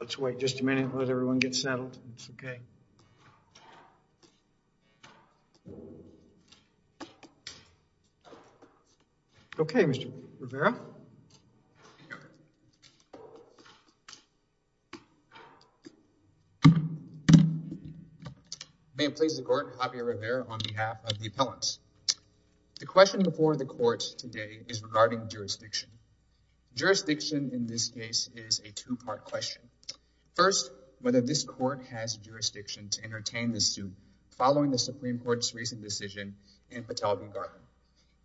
Let's wait just a minute. Let everyone get settled. Okay? Okay, Mr. Rivera. May it please the court, Javier Rivera on behalf of the appellants. The question before the court today is regarding jurisdiction. Jurisdiction in this case is a two part question. First, whether this court has jurisdiction to entertain this suit following the Supreme Court's recent decision in Patel v. Garland.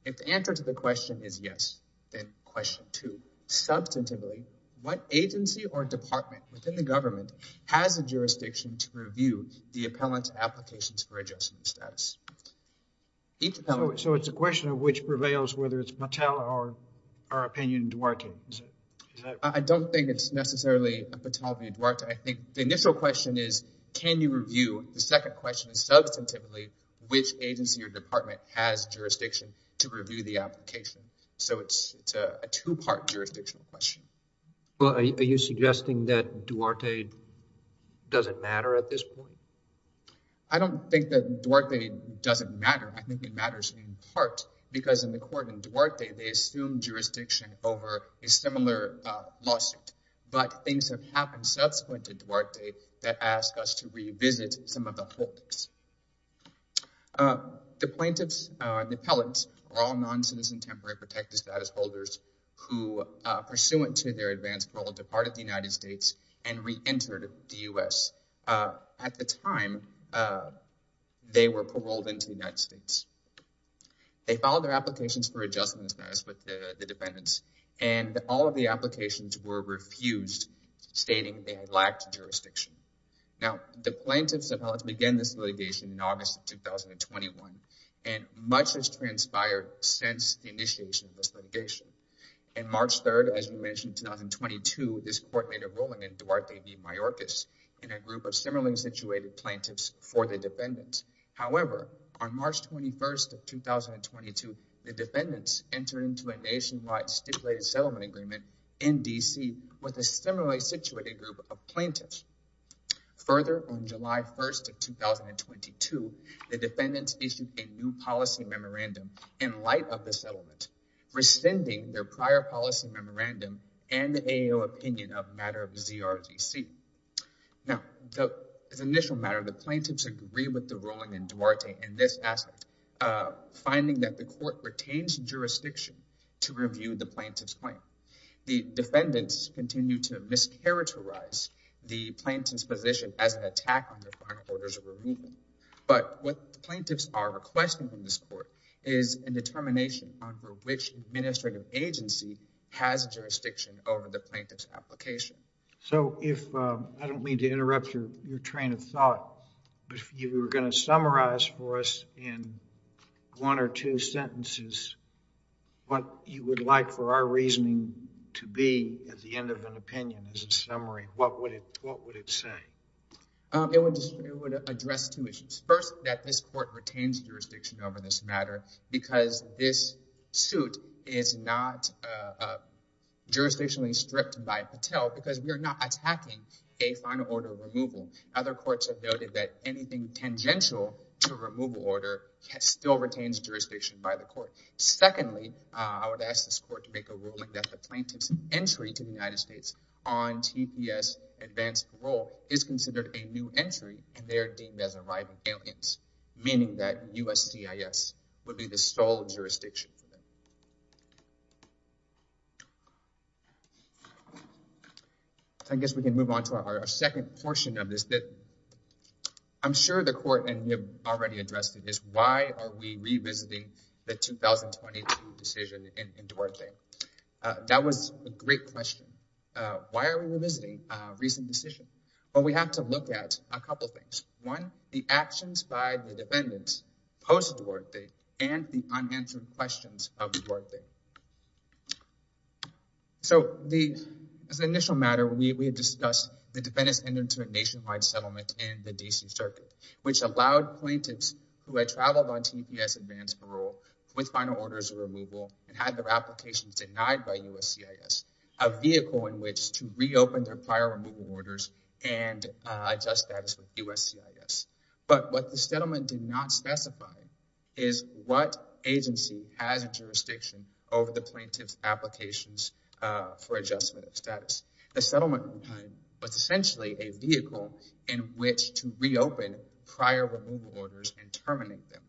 If the answer to the question is yes, then question two. Substantively, what agency or department within the government has a jurisdiction to review the appellant's applications for adjustment status? So, it's a question of which prevails, whether it's Patel or our opinion Duarte? I don't think it's necessarily a Patel v. Duarte. I think the initial question is, can you review? The second question is substantively, which agency or department has jurisdiction to review the application? So, it's a two part jurisdictional question. Well, are you suggesting that Duarte doesn't matter at this point? I don't think that Duarte doesn't matter. I think it matters in part because in the court in Duarte, they assume jurisdiction over a similar lawsuit. But things have happened subsequent to Duarte that ask us to revisit some of the holdings. The plaintiffs, the appellants, are all non-citizen temporary protected status holders who, pursuant to their advance parole, departed the United States and re-entered the U.S. At the time, they were paroled into the United States. They filed their applications for adjustment status with the defendants and all of the applications were refused, stating they had lacked jurisdiction. Now, the plaintiffs and appellants began this litigation in August of 2021 and much has transpired since the initiation of this litigation. On March 3rd, as you mentioned, 2022, this court made a ruling in Duarte v. Mayorkas in a group of similarly situated plaintiffs for the defendants. However, on March 21st of 2022, the defendants entered into a nationwide stipulated settlement agreement in D.C. with a similarly situated group of plaintiffs. Further, on July 1st of 2022, the defendants issued a new policy memorandum in light of the settlement, rescinding their prior policy memorandum and the AO opinion of a matter of ZRGC. Now, as an initial matter, the plaintiffs agree with the ruling in Duarte in this aspect, finding that the court retains jurisdiction to review the plaintiff's claim. The defendants continue to mischaracterize the plaintiff's position as an attack on their final orders of removal. But what the plaintiffs are requesting from this court is a determination on which administrative agency has jurisdiction over the plaintiff's application. So if, I don't mean to interrupt your train of thought, but if you were going to summarize for us in one or two sentences what you would like for our reasoning to be at the end of an opinion, as a summary, what would it say? It would address two issues. First, that this court retains jurisdiction over this matter because this suit is not jurisdictionally stripped by Patel because we are not attacking a final order of removal. Other courts have noted that anything tangential to removal order still retains jurisdiction by the court. Secondly, I would ask this court to make a ruling that the plaintiff's entry to the United States on TPS advanced parole is considered a new entry and they're deemed as arriving aliens, meaning that USCIS would be the sole jurisdiction for them. I guess we can move on to our second portion of this that I'm sure the court and we have already addressed it is why are we revisiting the 2022 decision in Duarte? That was a great question. Why are we revisiting a recent decision? Well, we have to look at a couple of things. One, the actions by the defendants post Duarte and the unanswered questions of Duarte. So, as an initial matter, we have discussed the defendants entering into a nationwide settlement in the D.C. Circuit, which allowed plaintiffs who had traveled on TPS advanced parole with final orders of removal and had their applications denied by USCIS, a vehicle in which to reopen their prior removal orders and adjust status with USCIS. But what the settlement did not specify is what agency has a jurisdiction over the plaintiff's applications for adjustment of status. The settlement was essentially a vehicle in which to reopen prior removal orders and terminate them.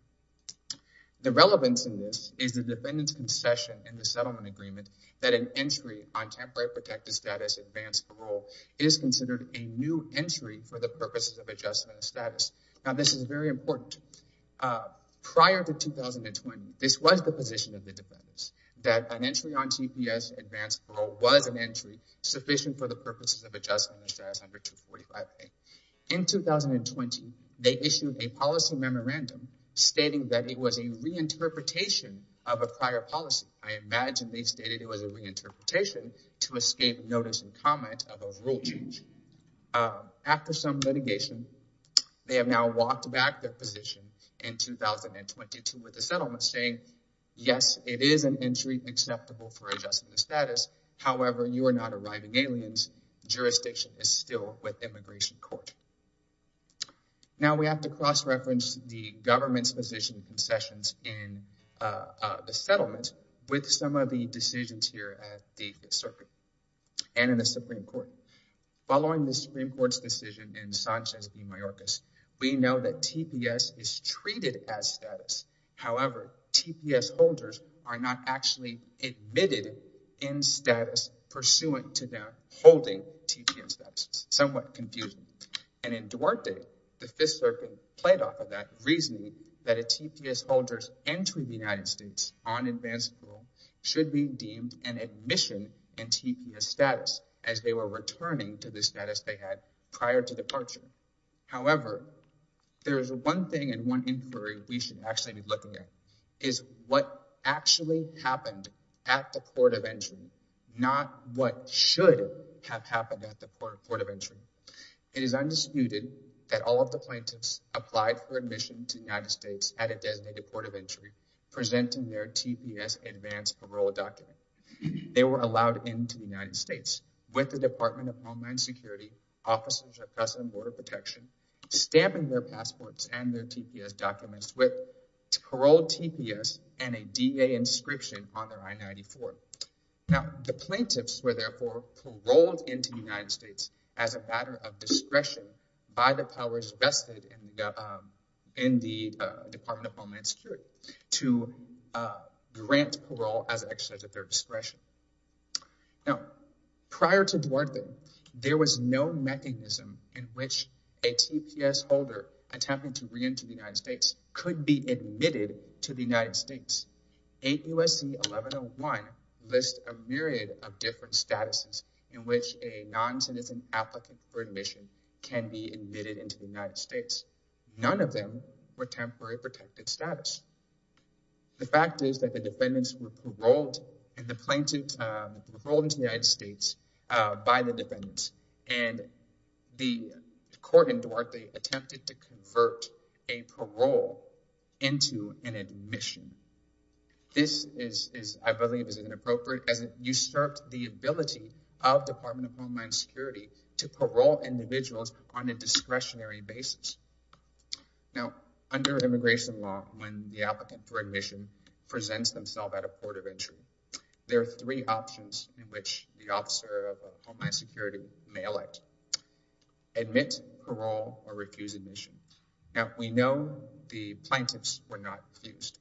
The relevance in this is the defendant's concession in the settlement agreement that an entry on temporary protective status advanced parole is considered a new entry for the purposes of adjustment of status. Now, this is very important. Prior to 2020, this was the position of the defendants, that an entry on TPS advanced parole was an entry sufficient for the purposes of adjustment of status under 245A. In 2020, they issued a policy memorandum stating that it was a reinterpretation of a prior policy. I notice the comment of a rule change. After some litigation, they have now walked back their position in 2022 with the settlement saying, yes, it is an entry acceptable for adjustment of status. However, you are not arriving aliens. Jurisdiction is still with Immigration Court. Now, we have to cross-reference the government's position concessions in the settlement with some of the decisions here at the Fifth Circuit and in the Supreme Court. Following the Supreme Court's decision in Sanchez v. Mayorkas, we know that TPS is treated as status. However, TPS holders are not actually admitted in status pursuant to their holding TPS status. Somewhat confusing. And in Duarte, the Fifth Circuit played off of that reasoning that a TPS holder's entry in the enhanced rule should be deemed an admission in TPS status as they were returning to the status they had prior to departure. However, there is one thing and one inquiry we should actually be looking at is what actually happened at the Port of Entry, not what should have happened at the Port of Entry. It is undisputed that all of the plaintiffs applied for admission to the United States Port of Entry presenting their TPS advance parole document. They were allowed into the United States with the Department of Homeland Security, Officers of Customs and Border Protection, stamping their passports and their TPS documents with paroled TPS and a DA inscription on their I-94. Now, the plaintiffs were therefore paroled into the United States as a matter of discretion by the powers vested in the Department of Homeland Security to grant parole as an exercise of their discretion. Now, prior to Duarte, there was no mechanism in which a TPS holder attempting to re-enter the United States could be admitted to the United States. 8 U.S.C. 1101 lists a myriad of different statuses in which a non-citizen applicant for admission can be admitted into the United States. None of them were temporary protected status. The fact is that the defendants were paroled and the plaintiffs were paroled into the United States by the defendants and the court in Duarte attempted to convert a parole into an admission. This is I believe is inappropriate as it usurped the ability of Department of Homeland Security to Now, under immigration law, when the applicant for admission presents themselves at a port of entry, there are three options in which the officer of Homeland Security may elect. Admit, parole, or refuse admission. Now, we know the plaintiffs were not refused.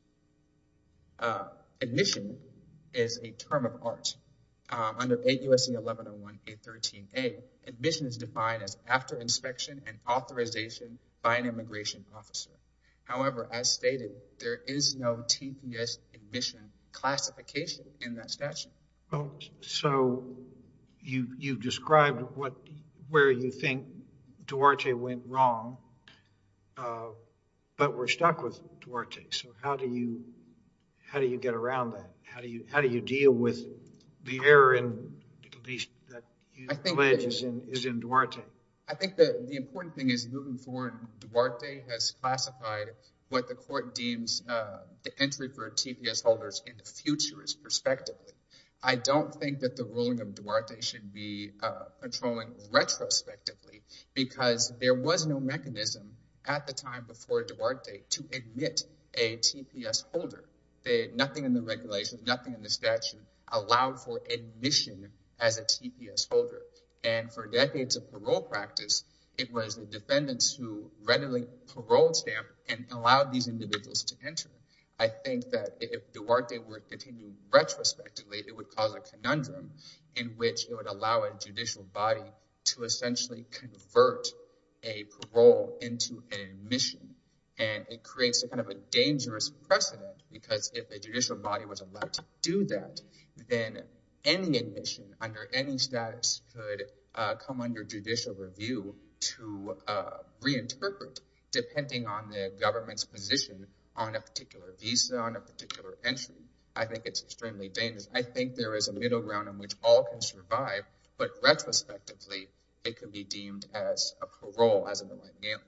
Admission is a term of art. Under 8 U.S.C. 1101-813-A, admission is defined as after inspection and authorization by an immigration officer. However, as stated, there is no TPS admission classification in that statute. So, you described where you think Duarte went wrong, but we're stuck with Duarte. So, how do you get around that? How do you deal with the error in at least that allegation is in Duarte? I think the important thing is moving forward, Duarte has classified what the court deems the entry for TPS holders in the future is perspective. I don't think that the ruling of Duarte should be patrolling retrospectively because there was no mechanism at the time before Duarte to admit a TPS holder. Nothing in the statute allowed for admission as a TPS holder. And for decades of parole practice, it was the defendants who readily paroled them and allowed these individuals to enter. I think that if Duarte were to continue retrospectively, it would cause a conundrum in which it would allow a judicial body to essentially convert a parole into an admission. And it creates a kind of a situation where if the body was allowed to do that, then any admission under any status could come under judicial review to reinterpret, depending on the government's position on a particular visa, on a particular entry. I think it's extremely dangerous. I think there is a middle ground in which all can survive, but retrospectively, it could be deemed as a parole as an alleged alien.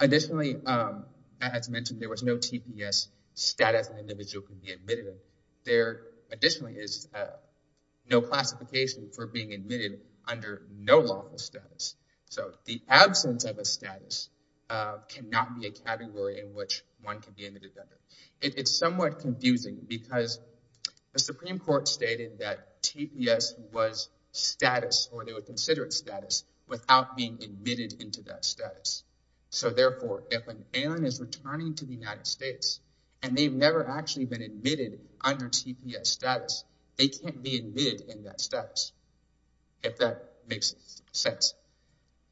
Additionally, as mentioned, there was no TPS status an individual could be admitted under. Additionally, there is no classification for being admitted under no lawful status. So the absence of a status cannot be a category in which one can be admitted under. It's somewhat confusing because the Supreme Court stated that TPS was status, or they would consider it status, without being admitted into that status. So therefore, if an alien is returning to the United States and they've never actually been admitted under TPS status, they can't be admitted in that status, if that makes sense.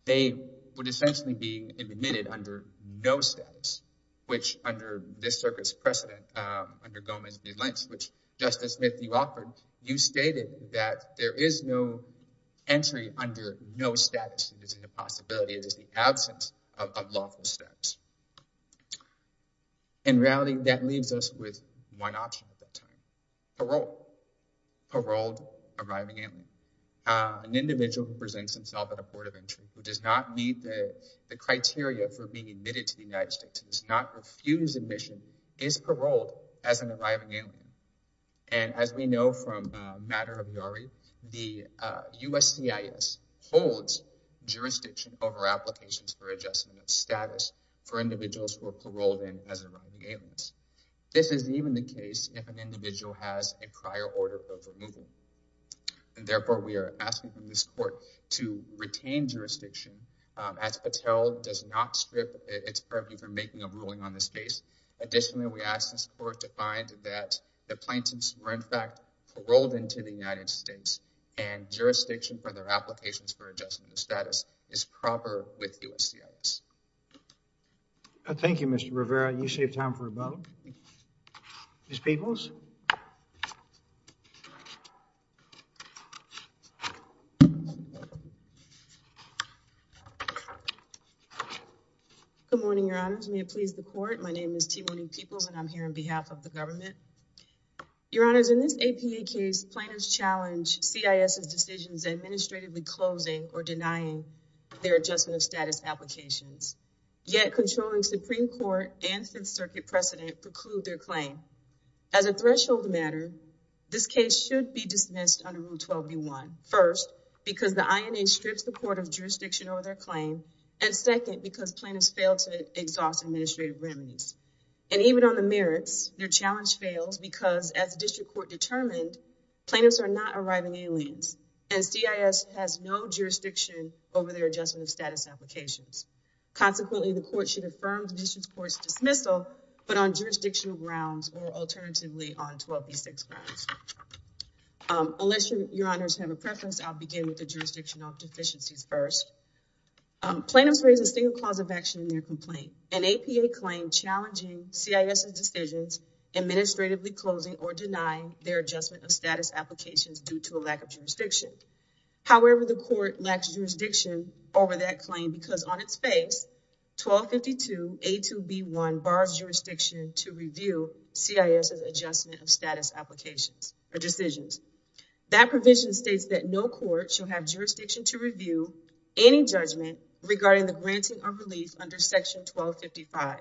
They would essentially be admitted under no status, which under this circuit's precedent, under Gomez v. Lynch, which Justice Smith, you stated that there is no entry under no status. It is a possibility. It is the absence of lawful status. In reality, that leaves us with one option at that time. Parole. Paroled arriving alien. An individual who presents himself at a port of entry, who does not meet the criteria for being admitted to the United States, does not refuse admission, is paroled as an arriving alien. And as we know from the matter of Yari, the USCIS holds jurisdiction over applications for adjustment of status for individuals who are paroled in as arriving aliens. This is even the case if an individual has a prior order of removal. Therefore, we are asking for this court to retain jurisdiction as Patel does not strip its purview for making a ruling on this case. Additionally, we ask this court to find that the plaintiffs were in fact paroled into the United States and jurisdiction for their applications for adjustment of status is proper with USCIS. Thank you, Mr. Rivera. You saved time for a vote. Ms. Peeples. Good morning, Your Honors. May it please the court. My name is Timoni Peeples and I'm here on behalf of the government. Your Honors, in this APA case, plaintiffs challenge CIS's decisions administratively closing or denying their adjustment of status applications. Yet, controlling Supreme Court and Fifth Circuit precedent preclude their claim. As a threshold matter, this case should be dismissed under Rule 12B1. First, because the INA strips the court of jurisdiction over their claim. And second, because plaintiffs failed to exhaust administrative remedies. And even on the merits, their challenge fails because as district court determined, plaintiffs are not arriving aliens and CIS has no jurisdiction over their adjustment of status applications. Consequently, the court should affirm the district court's dismissal, but on jurisdictional grounds or alternatively on 12B6 grounds. Unless Your Honors have a preference, I'll begin with the jurisdictional deficiencies first. Plaintiffs raise a single cause of action in their complaint, an APA claim challenging CIS's decisions, administratively closing or denying their adjustment of status applications due to a lack of jurisdiction. However, the court lacks jurisdiction over that claim because on its face, 1252A2B1 bars jurisdiction to review CIS's adjustment of status applications or decisions. That provision states that no court should have jurisdiction to review any judgment regarding the granting of relief under Section 1255.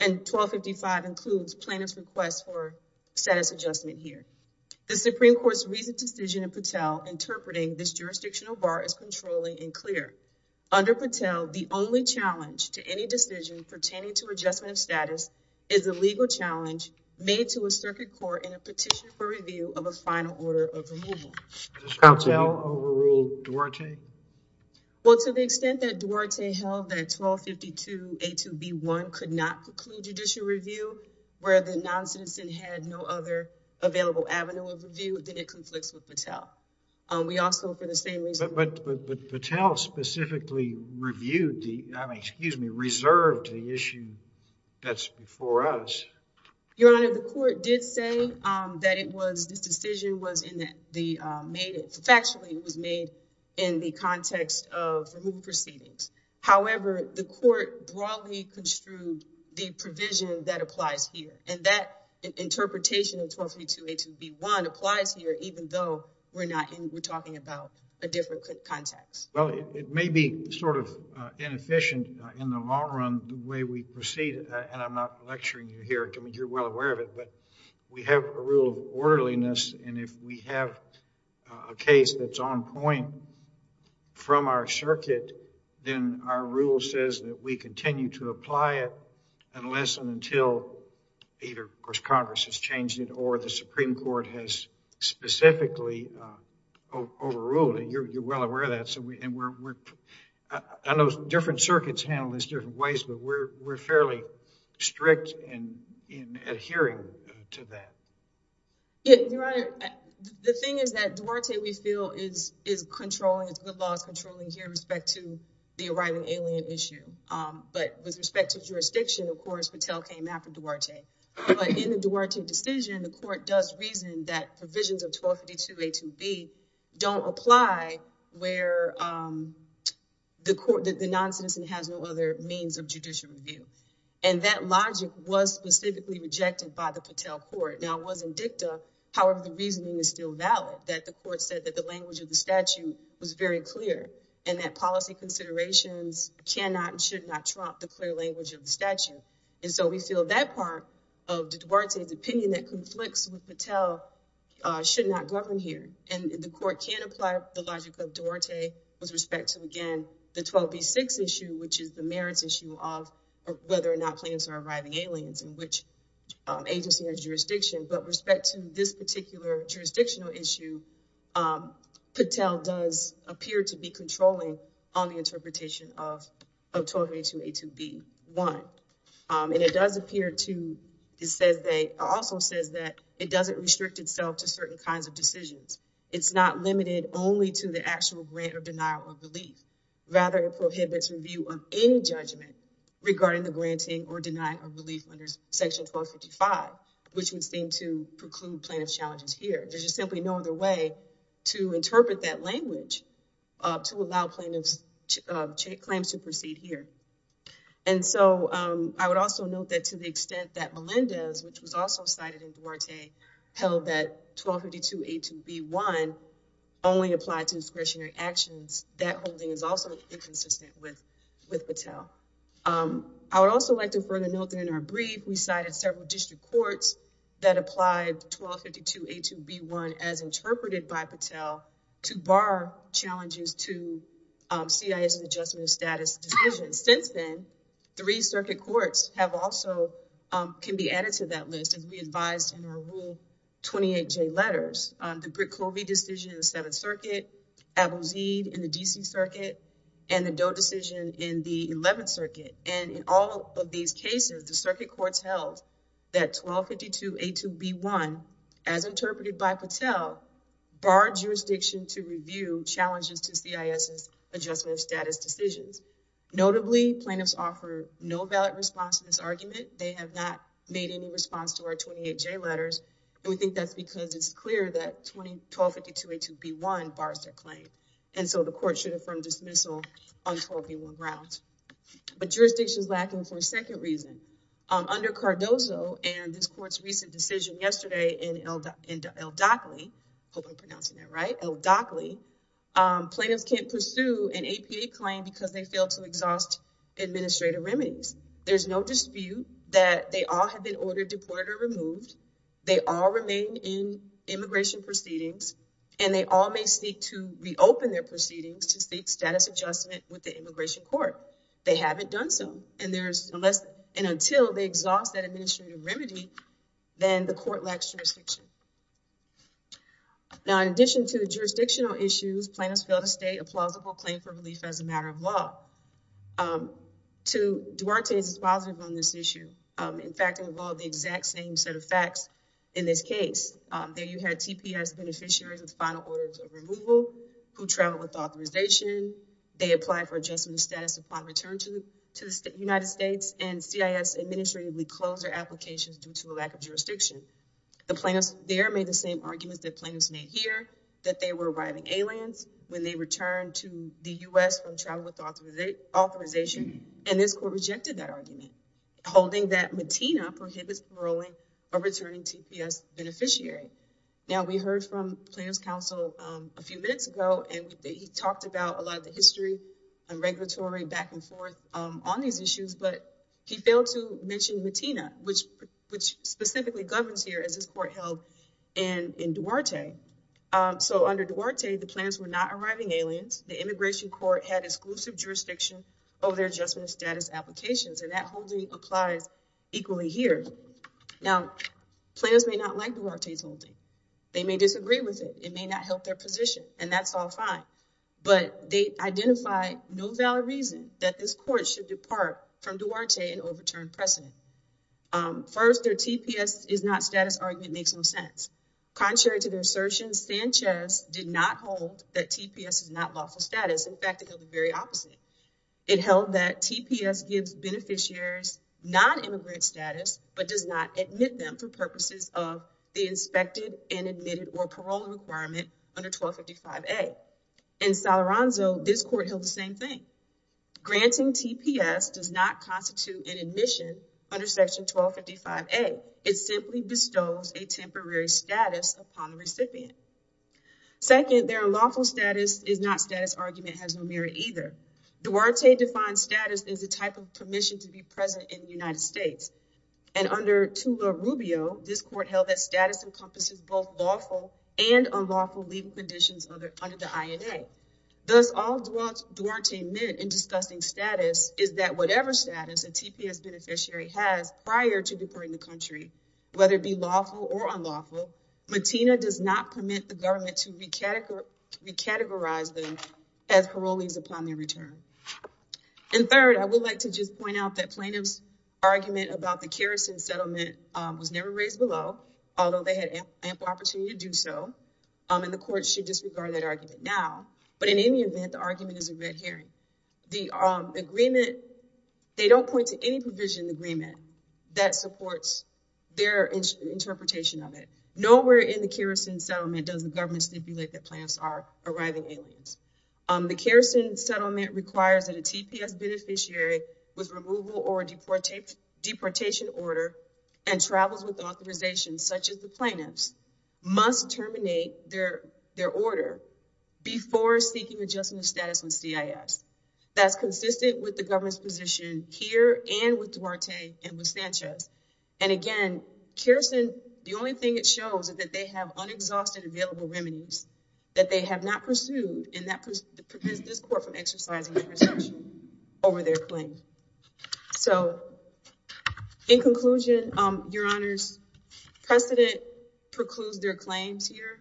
And 1255 includes plaintiff's request for status adjustment here. The Supreme Court's recent decision in Patel interpreting this jurisdictional bar is controlling and clear. Under Patel, the only challenge to any decision pertaining to adjustment of status is a legal challenge made to a circuit court in a petition for review of a final order of removal. Does Patel overrule Duarte? Well, to the extent that Duarte held that 1252A2B1 could not conclude judicial review where the non-citizen had no other available avenue of review, then it conflicts with Patel. But Patel specifically reserved the issue that's before us. Your Honor, the court did say that this decision was factually made in the context of removal proceedings. However, the court broadly construed the provision that applies here. And that interpretation of 1252A2B1 applies here even though we're talking about a different context. Well, it may be sort of inefficient in the long run the way we proceed. And I'm not lecturing you here. I mean, you're well aware of it. But we have a rule of orderliness. And if we have a case that's on point from our circuit, then our rule says that we continue to apply it unless and until either, of course, Congress has changed it or the Supreme Court has specifically overruled it. You're well aware of that. And I know different circuits handle this different ways. But we're fairly strict in adhering to that. Your Honor, the thing is that Duarte, we feel, is controlling. It's good laws controlling here with respect to the arriving alien issue. But with respect to jurisdiction, of course, Patel came after Duarte. But in the Duarte decision, the court does reason that provisions of 1252A2B don't apply where the noncitizen has no other means of judicial review. And that logic was specifically rejected by the Patel court. Now, it wasn't dicta. However, the reasoning is still valid, that the court said that the language of the statute was very clear and that policy considerations cannot and should not trump the clear language of the statute. And so we feel that part of Duarte's opinion that conflicts with Patel should not govern here. And the court can apply the logic of Duarte with respect to, again, the 12B6 issue, which is the merits issue of whether or not planes are arriving aliens and which agency has jurisdiction. But with respect to this particular jurisdictional issue, Patel does appear to be controlling on the interpretation of 1282A2B1. And it does appear to, it also says that it doesn't restrict itself to certain kinds of decisions. It's not limited only to the actual grant or denial of relief. Rather, it prohibits review of any judgment regarding the granting or denying of relief under section 1255, which would seem to preclude plaintiff's challenges here. There's just simply no other way to interpret that language to allow plaintiff's claims to proceed here. And so I would also note that to the extent that Melendez, which was also cited in Duarte, held that 1252A2B1 only applied to discretionary actions, that holding is also inconsistent with Patel. I would also like to further note that in our brief, we cited several district courts that applied 1252A2B1 as interpreted by Patel to bar challenges to CIS adjustment of status decisions. And since then, three circuit courts have also, can be added to that list as we advised in our Rule 28J letters. The Britt-Covey decision in the 7th Circuit, Abouzid in the DC Circuit, and the Doe decision in the 11th Circuit. And in all of these cases, the circuit courts held that 1252A2B1, as interpreted by Patel, barred jurisdiction to review challenges to CIS's adjustment of status decisions. Notably, plaintiffs offer no valid response to this argument. They have not made any response to our 28J letters, and we think that's because it's clear that 1252A2B1 bars their claim. And so the court should affirm dismissal on 12B1 grounds. But jurisdiction is lacking for a second reason. Under Cardozo and this court's recent decision yesterday in El Dockley, plaintiffs can't pursue an APA claim because they failed to exhaust administrative remedies. There's no dispute that they all have been ordered, deported, or removed. They all remain in immigration proceedings, and they all may seek to reopen their proceedings to seek status adjustment with the immigration court. They haven't done so, and until they exhaust that administrative remedy, then the court lacks jurisdiction. Now, in addition to jurisdictional issues, plaintiffs fail to state a plausible claim for relief as a matter of law. Duarte is positive on this issue. In fact, it involved the exact same set of facts in this case. There you had TPS beneficiaries with final orders of removal who traveled without authorization. They applied for adjustment of status upon return to the United States, and CIS administratively closed their applications due to a lack of jurisdiction. The plaintiffs there made the same arguments that plaintiffs made here, that they were arriving aliens when they returned to the U.S. from travel without authorization, and this court rejected that argument, holding that MATINA prohibits paroling a returning TPS beneficiary. Now, we heard from plaintiffs' counsel a few minutes ago, and he talked about a lot of the history and regulatory back and forth on these issues, but he failed to mention MATINA, which specifically governs here, as this court held in Duarte. So, under Duarte, the plaintiffs were not arriving aliens. The immigration court had exclusive jurisdiction over their adjustment of status applications, and that holding applies equally here. Now, plaintiffs may not like Duarte's holding. They may disagree with it. It may not help their position, and that's all fine, but they identify no valid reason that this court should depart from Duarte and overturn precedent. First, their TPS is not status argument makes no sense. Contrary to their assertion, Sanchez did not hold that TPS is not lawful status. In fact, it held the very opposite. It held that TPS gives beneficiaries non-immigrant status, but does not admit them for purposes of the inspected and admitted or paroling requirement under 1255A. In Salaranzo, this court held the same thing. Granting TPS does not constitute an admission under Section 1255A. It simply bestows a temporary status upon the recipient. Second, their unlawful status is not status argument has no merit either. Duarte defines status as a type of permission to be present in the United States. And under Tula Rubio, this court held that status encompasses both lawful and unlawful legal conditions under the INA. Thus, all Duarte meant in discussing status is that whatever status a TPS beneficiary has prior to departing the country, whether it be lawful or unlawful, Matina does not permit the government to recategorize them as parolees upon their return. And third, I would like to just point out that plaintiff's argument about the kerosene settlement was never raised below, although they had ample opportunity to do so. And the court should disregard that argument now. But in any event, the argument is a red herring. The agreement, they don't point to any provision agreement that supports their interpretation of it. Nowhere in the kerosene settlement does the government stipulate that plaintiffs are arriving aliens. The kerosene settlement requires that a TPS beneficiary with removal or deportation order and travels with authorization, such as the plaintiffs, must terminate their their order before seeking adjustment status with CIS. That's consistent with the government's position here and with Duarte and with Sanchez. And again, kerosene, the only thing it shows is that they have unexhausted available remedies that they have not pursued. And that prevents this court from exercising over their claim. So in conclusion, your honor's precedent precludes their claims here.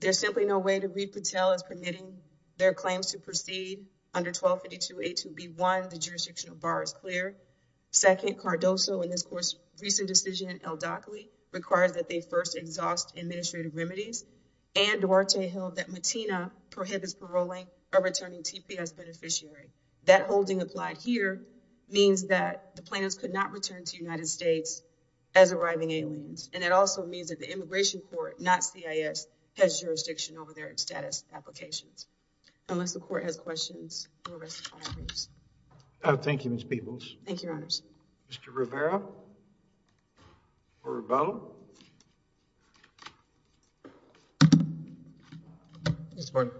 There's simply no way to read Patel as permitting their claims to proceed under 1252A2B1. The jurisdictional bar is clear. Second, Cardoso in this court's recent decision, el-Dakhli, requires that they first exhaust administrative remedies. And Duarte held that Matina prohibits paroling a returning TPS beneficiary. That holding applied here means that the plaintiffs could not return to the United States as arriving aliens. And it also means that the immigration court, not CIS, has jurisdiction over their status applications. Unless the court has questions. Thank you, Ms. Peebles. Thank you, your honors. Mr. Rivera or Rivello? Yes, your honor.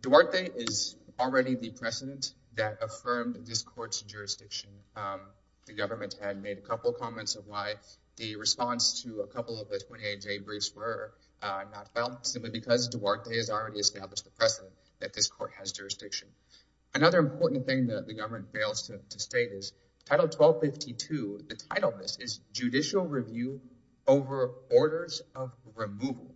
Duarte is already the precedent that affirmed this court's jurisdiction. The government had made a couple of comments of why the response to a couple of the 28J briefs were not felt, simply because Duarte has already established the precedent that this court has jurisdiction. Another important thing that the government fails to state is Title 1252, the title of this is Judicial Review over Orders of Removal.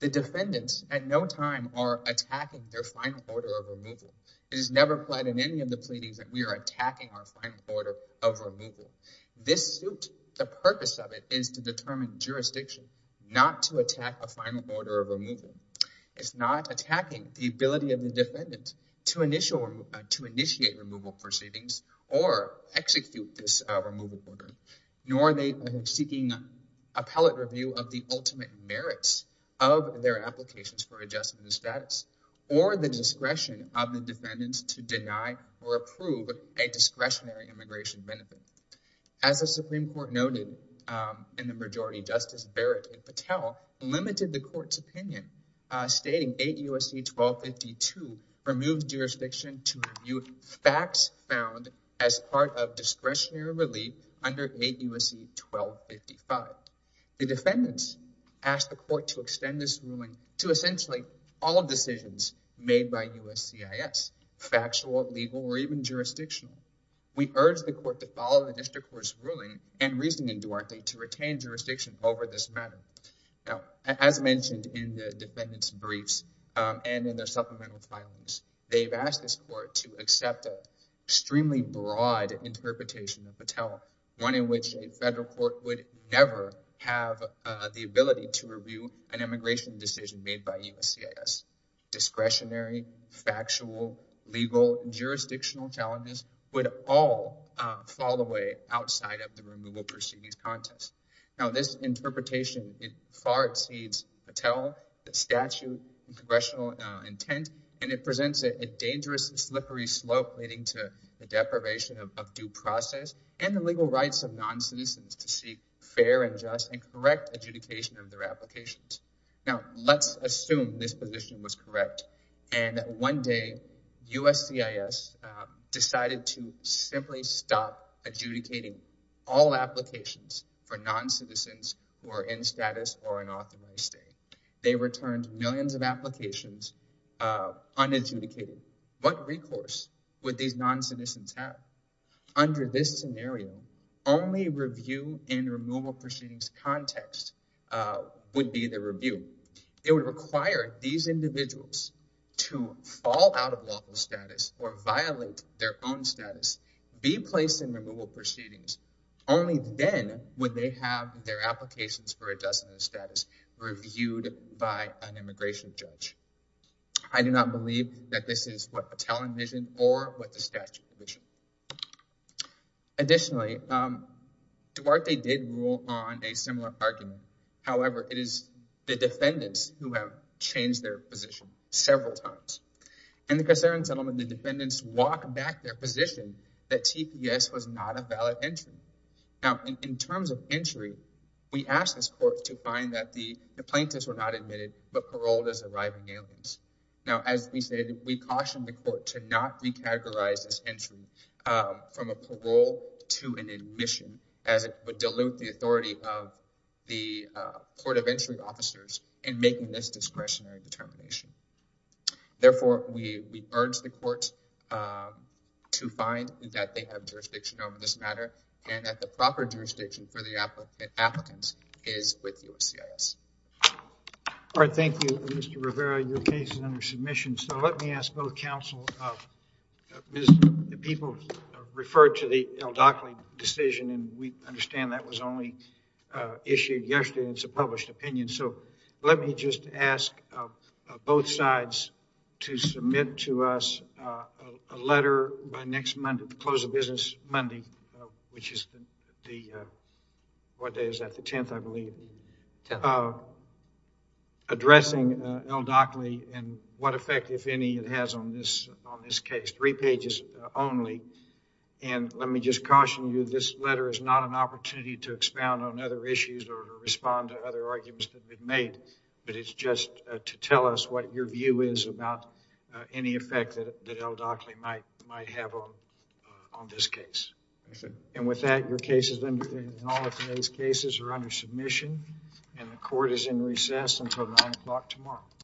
The defendants at no time are attacking their final order of removal. It is never applied in any of the pleadings that we are attacking our final order of removal. This suit, the purpose of it is to determine jurisdiction, not to attack a final order of removal. It's not attacking the ability of the defendant to initiate removal proceedings or execute this removal order. Nor are they seeking appellate review of the ultimate merits of their applications for adjusting the status or the discretion of the defendants to deny or approve a discretionary immigration benefit. As the Supreme Court noted in the majority, Justice Barrett and Patel limited the court's opinion, stating 8 U.S.C. 1252 removes jurisdiction to review facts found as part of discretionary relief under 8 U.S.C. 1255. The defendants asked the court to extend this ruling to essentially all decisions made by U.S.C.I.S., factual, legal, or even jurisdictional. We urge the court to follow the district court's ruling and reasoning, Duarte, to retain jurisdiction over this matter. Now, as mentioned in the defendants' briefs and in their supplemental filings, they've asked this court to accept an extremely broad interpretation of Patel, one in which a federal court would never have the ability to review an immigration decision made by U.S.C.I.S. Discretionary, factual, legal, and jurisdictional challenges would all fall away outside of the removal proceedings contest. Now, this interpretation far exceeds Patel, the statute, and congressional intent, and it presents a dangerous and slippery slope leading to the deprivation of due process and the legal rights of noncitizens to seek fair and just and correct adjudication of their applications. Now, let's assume this position was correct. And one day, U.S.C.I.S. decided to simply stop adjudicating all applications for noncitizens who are in status or an authorized state. They returned millions of applications unadjudicated. What recourse would these noncitizens have? Under this scenario, only review in removal proceedings context would be the review. It would require these individuals to fall out of lawful status or violate their own status, be placed in removal proceedings. Only then would they have their applications for adjustment of status reviewed by an immigration judge. I do not believe that this is what Patel envisioned or what the statute envisioned. Additionally, Duarte did rule on a similar argument. However, it is the defendants who have changed their position several times. And the concern, gentlemen, the defendants walk back their position that TPS was not a valid entry. Now, in terms of entry, we ask this court to find that the plaintiffs were not admitted but paroled as arriving aliens. Now, as we said, we caution the court to not recategorize this entry from a parole to an admission, as it would dilute the authority of the court of entry officers in making this discretionary determination. Therefore, we urge the court to find that they have jurisdiction over this matter and that the proper jurisdiction for the applicant is with USCIS. All right. Thank you, Mr. Rivera. Your case is under submission. So let me ask both counsel, people referred to the Aldockley decision, and we understand that was only issued yesterday. It's a published opinion. So let me just ask both sides to submit to us a letter by next Monday, the close of business Monday, which is the, what day is that, the 10th, I believe, addressing Aldockley and what effect, if any, it has on this case, three pages only. And let me just caution you, this letter is not an opportunity to expound on other issues or to respond to other arguments that have been made, but it's just to tell us what your view is about any effect that Aldockley might have on this case. And with that, your case is under, and all of today's cases are under submission, and the court is in recess until 9 o'clock tomorrow.